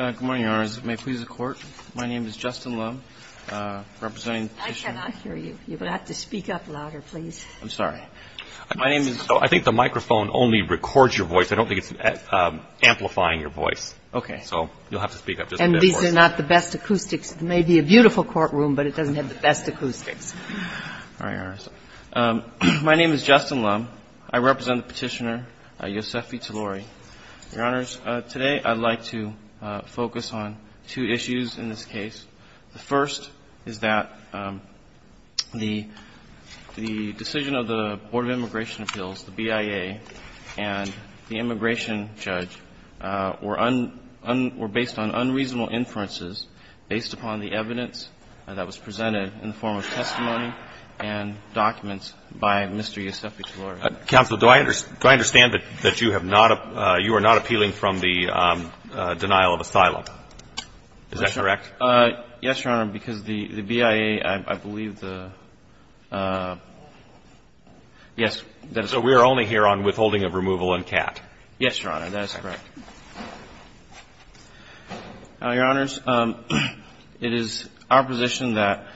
I think the microphone only records your voice. I don't think it's amplifying your voice, so you'll have to speak up just a bit more. And these are not the best acoustics. It may be a beautiful courtroom, but it doesn't have the best acoustics. My name is Justin Lum. I represent the Petitioner, Yosefi-Talouri. Your Honors, today I'd like to focus on two issues in this case. The first is that the decision of the Board of Immigration Appeals, the BIA, and the immigration judge were based on unreasonable inferences based upon the evidence that was presented in the form of testimony and documents by Mr. Yosefi-Talouri. Counsel, do I understand that you have not – you are not appealing from the denial of asylum? Is that correct? Yes, Your Honor, because the BIA, I believe the – yes, that is correct. So we are only here on withholding of removal and CAT? Yes, Your Honor, that is correct. Your Honors, it is our position that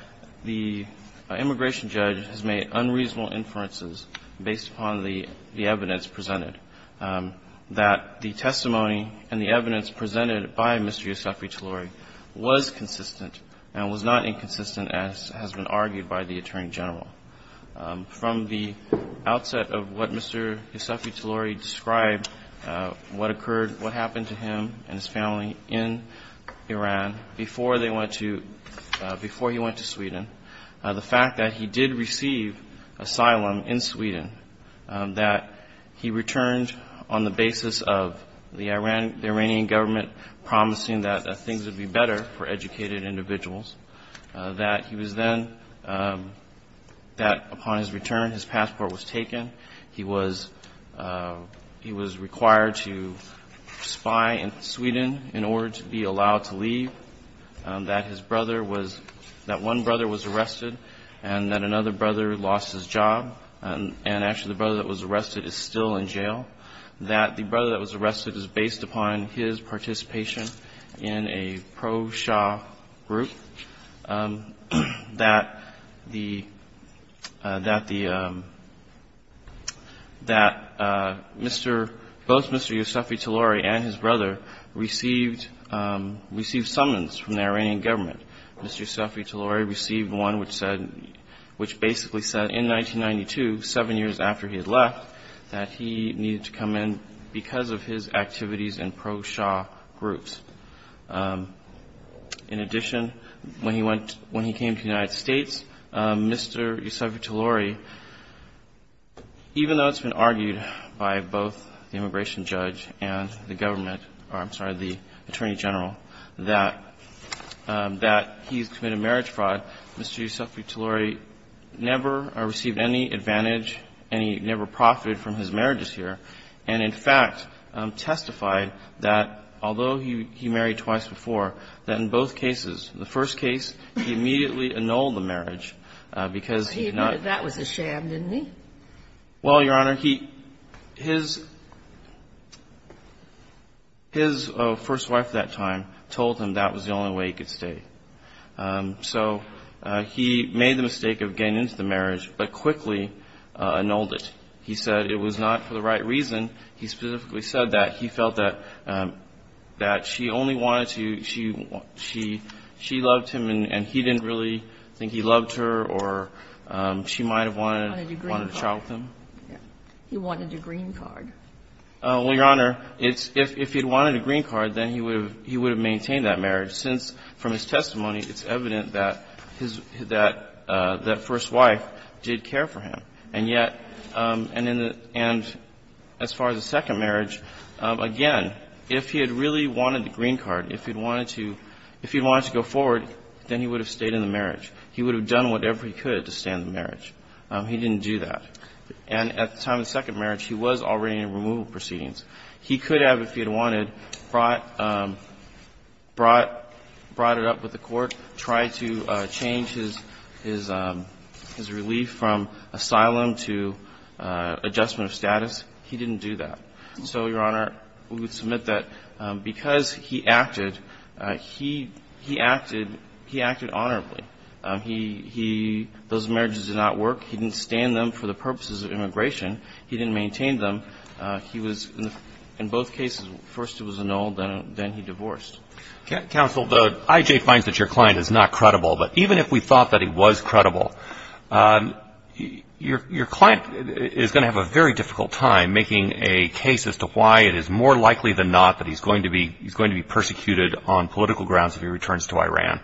the immigration judge has made unreasonable inferences based upon the evidence presented, that the testimony and the evidence presented by Mr. Yosefi-Talouri was consistent and was not inconsistent as has been argued by the Attorney General. From the outset of what Mr. Yosefi-Talouri described, what occurred – what happened to him and his family in Iran before they went to – before he went to Sweden, the fact that he did receive asylum in Sweden, that he returned on the basis of the Iranian government promising that things would be better for educated individuals, that he was then – that upon his return, his passport was taken, he was – he was required to spy in Sweden in order to be allowed to leave, that his brother was – that one brother was arrested and that another brother lost his job, and actually, the brother that was arrested is still in jail, that the brother that was arrested is based upon his participation in a pro-Shah group, that the – that the – that Mr. – both Mr. Yosefi-Talouri and his brother received – received summons from the Iranian government. Mr. Yosefi-Talouri received one which said – which basically said in 1992, 7 years after he had left, that he needed to come in because of his activities in pro-Shah groups. In addition, when he went – when he came to the United States, Mr. Yosefi-Talouri, even though it's been argued by both the immigration judge and the government – or, I'm sorry, the attorney general, that – that he's committed marriage fraud, Mr. Yosefi-Talouri never received any advantage and he never profited from his marriages here, and in fact, testified that although he married twice before, that in both cases, the first case, he immediately annulled the marriage because he did not – But he admitted that was a sham, didn't he? Well, Your Honor, he – his – his first wife at that time told him that was the only way he could stay. So he made the mistake of getting into the marriage, but quickly annulled it. He said it was not for the right reason. He specifically said that he felt that – that she only wanted to – she – she loved him and he didn't really think he loved her or she might have wanted a child with him. He wanted a green card. Well, Your Honor, it's – if he had wanted a green card, then he would have – he would have maintained that marriage since from his testimony, it's evident that his – that – that first wife did care for him. And yet – and in the – and as far as the second marriage, again, if he had really wanted the green card, if he'd wanted to – if he'd wanted to go forward, then he would have stayed in the marriage. He would have done whatever he could to stay in the marriage. He didn't do that. And at the time of the second marriage, he was already in removal proceedings. He could have, if he had wanted, brought – brought – brought it up with the court, tried to change his – his relief from asylum to adjustment of status. He didn't do that. So, Your Honor, we would submit that because he acted, he – he acted – he acted honorably. He – he – those marriages did not work. He didn't stand them for the purposes of immigration. He didn't maintain them. He was – in both cases, first it was annulled, then he divorced. Counsel, the – IJ finds that your client is not credible. But even if we thought that he was credible, your – your client is going to have a very difficult time making a case as to why it is more likely than not that he's going to be – he's going to be persecuted on political grounds if he returns to Iran.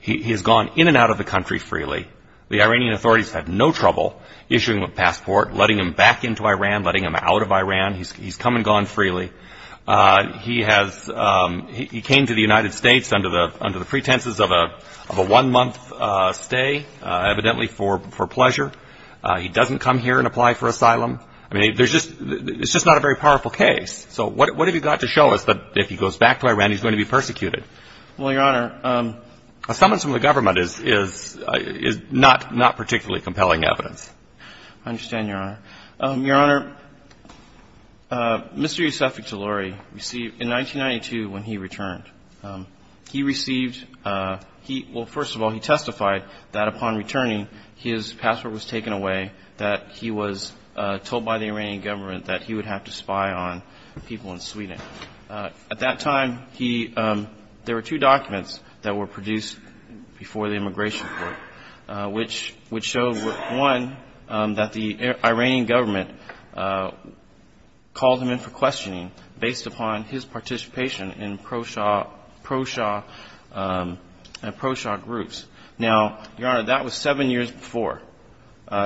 He has gone in and out of the country freely. The Iranian authorities had no trouble issuing him a passport, letting him back into Iran. He's – he's come and gone freely. He has – he came to the United States under the – under the pretenses of a – of a one-month stay, evidently for – for pleasure. He doesn't come here and apply for asylum. I mean, there's just – it's just not a very powerful case. So what have you got to show us that if he goes back to Iran, he's going to be persecuted? Well, Your Honor, a summons from the government is – is – is not – not particularly compelling evidence. I understand, Your Honor. Your Honor, Mr. Yousefiq Taluri received – in 1992, when he returned, he received – he – well, first of all, he testified that upon returning, his passport was taken away, that he was told by the Iranian government that he would have to spy on people in Sweden. At that time, he – there were two documents that were produced before the immigration which – which showed, one, that the Iranian government called him in for questioning based upon his participation in pro-Shah – pro-Shah – pro-Shah groups. Now, Your Honor, that was seven years before.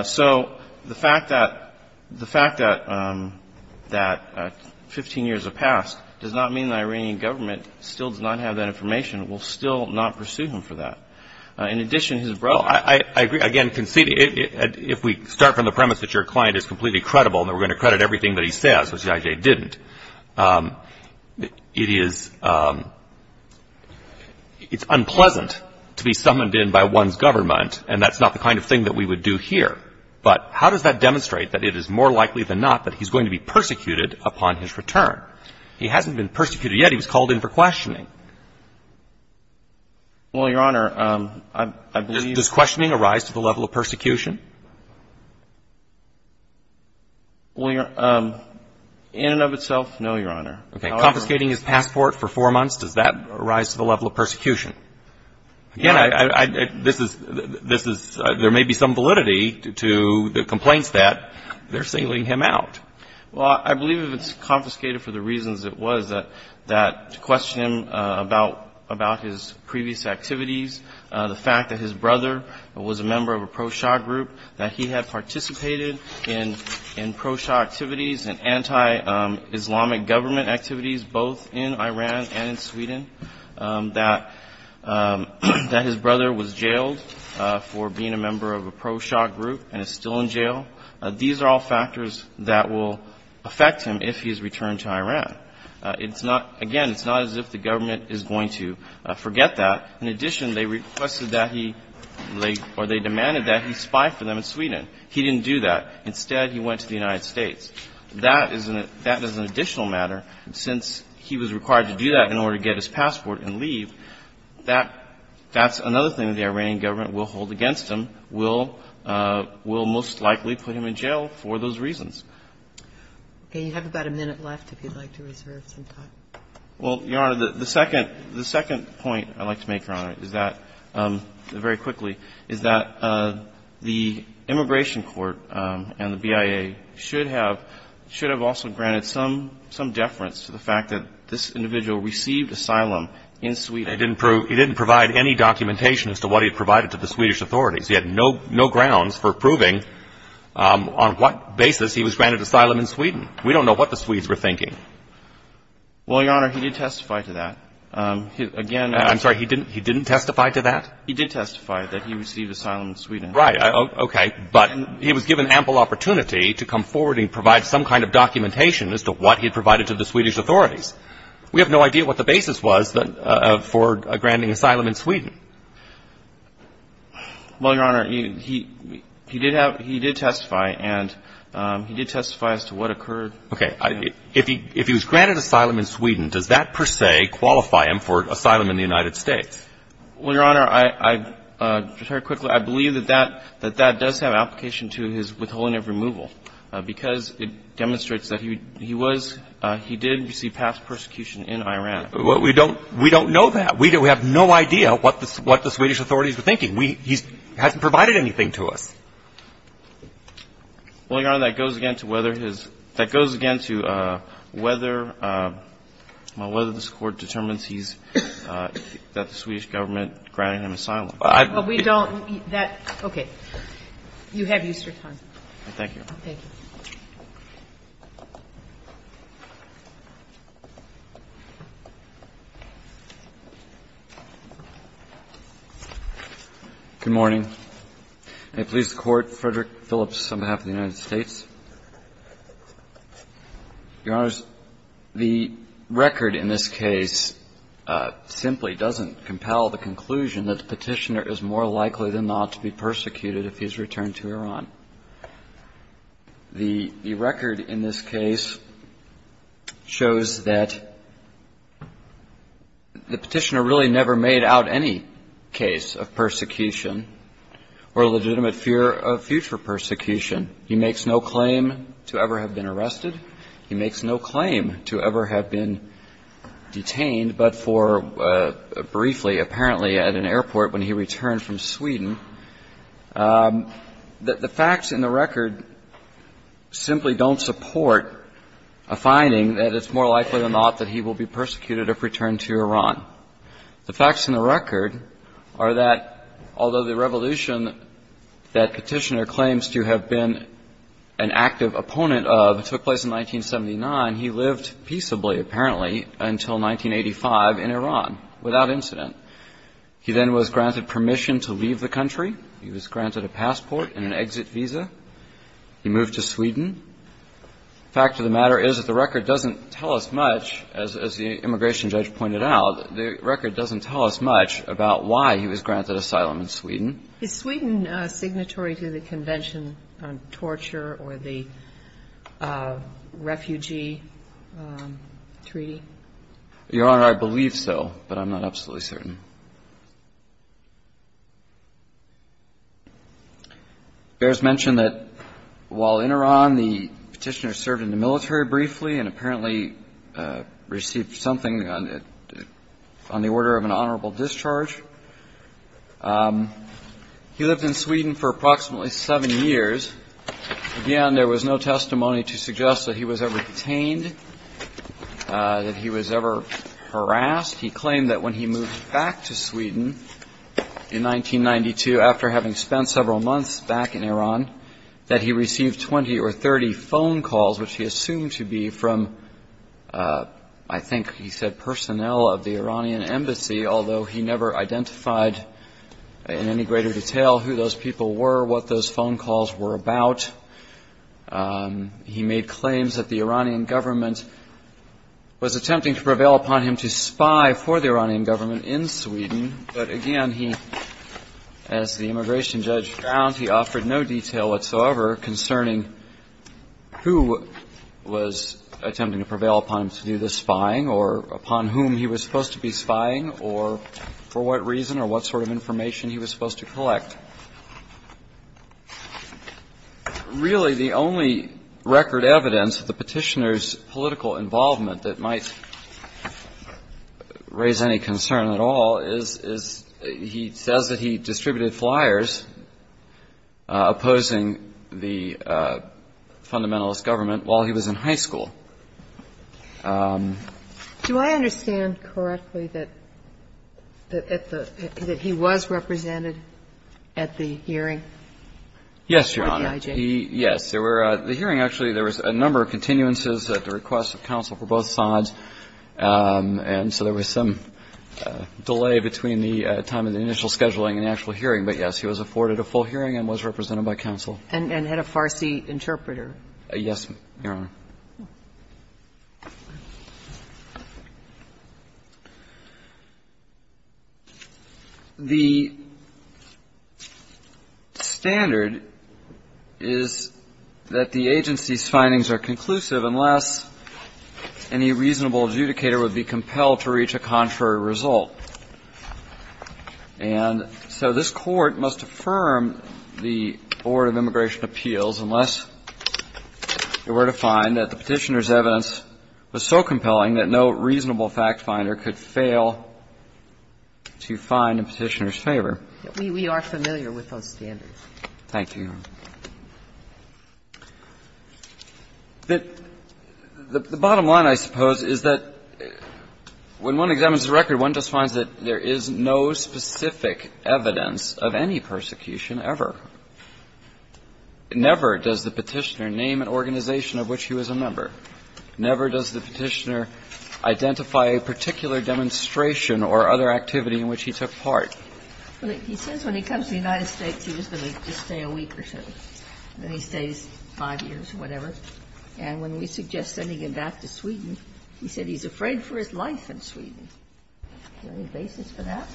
So the fact that – the fact that – that 15 years have passed does not mean the Iranian government still does not have that information. We'll still not pursue him for that. In addition, his brother – Well, I – I agree. Again, conceding – if we start from the premise that your client is completely credible and that we're going to credit everything that he says, which the IJ didn't, it is – it's unpleasant to be summoned in by one's government, and that's not the kind of thing that we would do here. But how does that demonstrate that it is more likely than not that he's going to be persecuted upon his return? He hasn't been persecuted yet. He was called in for questioning. Well, Your Honor, I believe – Does questioning arise to the level of persecution? Well, Your – in and of itself, no, Your Honor. Okay. Confiscating his passport for four months, does that arise to the level of persecution? Again, I – this is – this is – there may be some validity to the complaints that they're sealing him out. Well, I believe if it's confiscated for the reasons it was that – that to question him about – about his previous activities, the fact that his brother was a member of a pro-Shah group, that he had participated in – in pro-Shah activities and anti-Islamic government activities both in Iran and in Sweden, that – that his brother was jailed for being a member of a pro-Shah group and is still in jail, these are all factors that will affect him if he is returned to Iran. It's not – again, it's not as if the government is going to forget that. In addition, they requested that he – or they demanded that he spy for them in Sweden. He didn't do that. Instead, he went to the United States. That is an – that is an additional matter. Since he was required to do that in order to get his passport and leave, that – that's another thing the Iranian government will hold against him, will – will most likely put him in jail for those reasons. And you have about a minute left, if you'd like to reserve some time. Well, Your Honor, the second – the second point I'd like to make, Your Honor, is that – very quickly – is that the immigration court and the BIA should have – should have also granted some – some deference to the fact that this individual received asylum in Sweden. He didn't prove – he didn't provide any documentation as to what he provided to the Swedish authorities. He had no – no grounds for proving on what basis he was granted asylum in Sweden. We don't know what the Swedes were thinking. Well, Your Honor, he did testify to that. Again – I'm sorry. He didn't – he didn't testify to that? He did testify that he received asylum in Sweden. Right. Okay. But he was given ample opportunity to come forward and provide some kind of documentation as to what he provided to the Swedish authorities. We have no idea what the basis was for granting asylum in Sweden. Well, Your Honor, he – he did have – he did testify, and he did testify as to what occurred. Okay. If he – if he was granted asylum in Sweden, does that, per se, qualify him for asylum in the United States? Well, Your Honor, I – just very quickly, I believe that that – that that does have application to his withholding of removal, because it demonstrates that he was – he did receive past persecution in Iran. Well, we don't – we don't know that. We have no idea what the – what the Swedish authorities were thinking. We – he hasn't provided anything to us. Well, Your Honor, that goes again to whether his – that goes again to whether – well, whether this Court determines he's – that the Swedish Government granted him asylum. Well, we don't – that – okay. You have Easter time. Thank you. Thank you. Good morning. May it please the Court, Frederick Phillips on behalf of the United States. Your Honors, the record in this case simply doesn't compel the conclusion that the petitioner is more likely than not to be persecuted if he's returned to Iran. The record in this case shows that the petitioner really never made out any case of persecution or legitimate fear of future persecution. He makes no claim to ever have been arrested. He makes no claim to ever have been detained, but for briefly, apparently, at an airport when he returned from Sweden. The facts in the record simply don't support a finding that it's more likely than not that he will be persecuted if returned to Iran. The facts in the record are that, although the revolution that Petitioner claims to have been an active opponent of took place in 1979, he lived peaceably, apparently, until 1985 in Iran without incident. He then was granted permission to leave the country. He was granted a passport and an exit visa. He moved to Sweden. The fact of the matter is that the record doesn't tell us much, as the immigration judge pointed out, the record doesn't tell us much about why he was granted asylum in Sweden. Is Sweden signatory to the Convention on Torture or the Refugee Treaty? Your Honor, I believe so, but I'm not absolutely certain. Behrs mentioned that while in Iran, the Petitioner served in the military briefly and apparently received something on the order of an honorable discharge. He lived in Sweden for approximately seven years. Again, there was no testimony to suggest that he was ever detained, that he was ever harassed. He claimed that when he moved back to Sweden in 1992, after having spent several months back in Iran, that he received 20 or 30 phone calls, which he assumed to be from, I think he said personnel of the Iranian embassy, although he never identified in any greater detail who those people were, what those phone calls were about. He made claims that the Iranian government was attempting to prevail upon him to spy for the Iranian government in Sweden. But again, he, as the immigration judge found, he offered no detail whatsoever concerning who was attempting to prevail upon him to do the spying or upon whom he was supposed to be spying or for what reason or what sort of information he was supposed to collect. Really, the only record evidence of the Petitioner's political involvement that might raise any concern at all is he says that he distributed flyers opposing the fundamentalist government while he was in high school. Do I understand correctly that he was represented at the hearing? Yes, Your Honor. Yes. The hearing actually, there was a number of continuances at the request of counsel for both sides, and so there was some delay between the time of the initial scheduling and the actual hearing. But, yes, he was afforded a full hearing and was represented by counsel. And had a Farsi interpreter. Yes, Your Honor. The standard is that the agency's findings are conclusive unless any reasonable adjudicator would be compelled to reach a contrary result. And so this Court must affirm the Board of Immigration Appeals unless it were to find that the Petitioner's evidence was so compelling that no reasonable fact finder could fail to find a Petitioner's favor. We are familiar with those standards. Thank you, Your Honor. The bottom line, I suppose, is that when one examines the record, one just finds that there is no specific evidence of any persecution ever. Never does the Petitioner name an organization of which he was a member. Never does the Petitioner identify a particular demonstration or other activity in which he took part. He says when he comes to the United States, he was going to just stay a week or so. Then he stays five years or whatever. And when we suggest sending him back to Sweden, he said he's afraid for his life in Sweden. Is there any basis for that?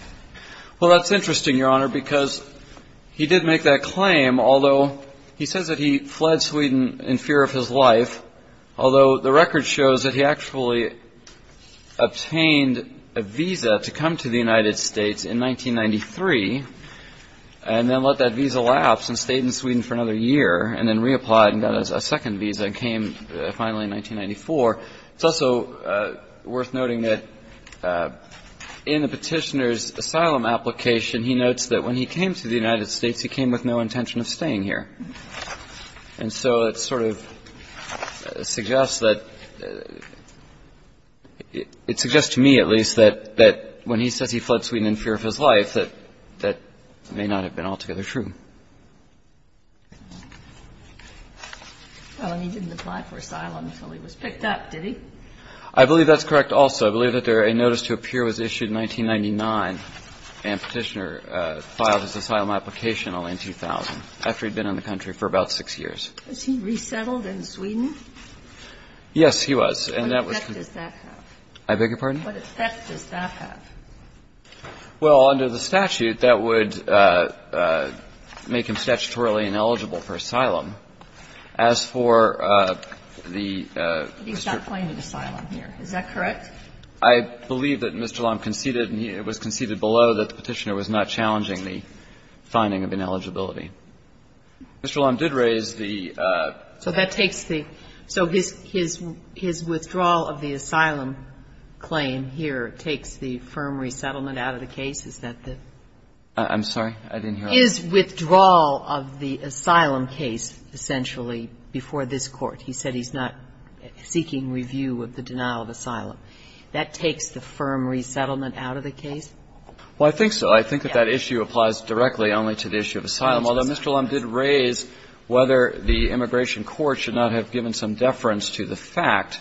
Well, that's interesting, Your Honor, because he did make that claim, although he says that he fled Sweden in fear of his life. Although the record shows that he actually obtained a visa to come to the United States in 1993 and then let that visa lapse and stayed in Sweden for another year and then reapplied and got a second visa and came finally in 1994. It's also worth noting that in the Petitioner's asylum application, he notes that when he came to the United States, he came with no intention of staying here. And so it sort of suggests that – it suggests to me, at least, that when he says he fled Sweden in fear of his life, that that may not have been altogether true. Well, and he didn't apply for asylum until he was picked up, did he? I believe that's correct also. I believe that a notice to appear was issued in 1999 and Petitioner filed his asylum application only in 2000, after he'd been in the country for about six years. Was he resettled in Sweden? Yes, he was. And that was from the – What effect does that have? I beg your pardon? What effect does that have? Well, under the statute, that would make him statutorily ineligible for asylum. As for the – But he's not claiming asylum here. Is that correct? I believe that Mr. Lam conceded, and it was conceded below, that the Petitioner was not challenging the finding of ineligibility. Mr. Lam did raise the – So that takes the – so his withdrawal of the asylum claim here takes the firm resettlement out of the case? Is that the – I'm sorry? I didn't hear all that. His withdrawal of the asylum case, essentially, before this Court. He said he's not seeking review of the denial of asylum. That takes the firm resettlement out of the case? Well, I think so. I think that that issue applies directly only to the issue of asylum, although Mr. Lam did raise whether the immigration court should not have given some deference to the fact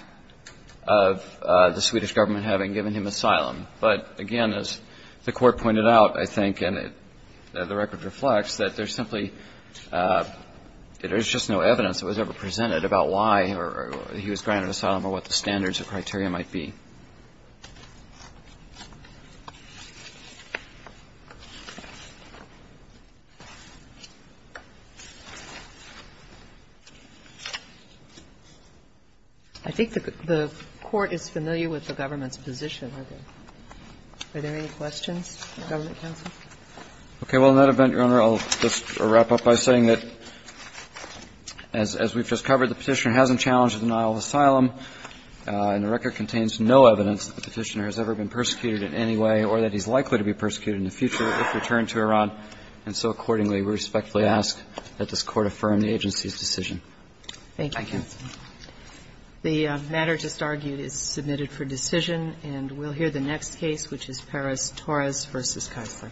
of the Swedish Government having given him asylum. But, again, as the Court pointed out, I think, and the record reflects, that there's simply – there's just no evidence that was ever presented about why he was granted asylum or what the standards or criteria might be. I think the Court is familiar with the government's position. Are there any questions from the government counsel? Okay. Well, in that event, Your Honor, I'll just wrap up by saying that, as we've just The matter just argued is submitted for decision. And we'll hear the next case, which is Perez-Torres v. Kaisler.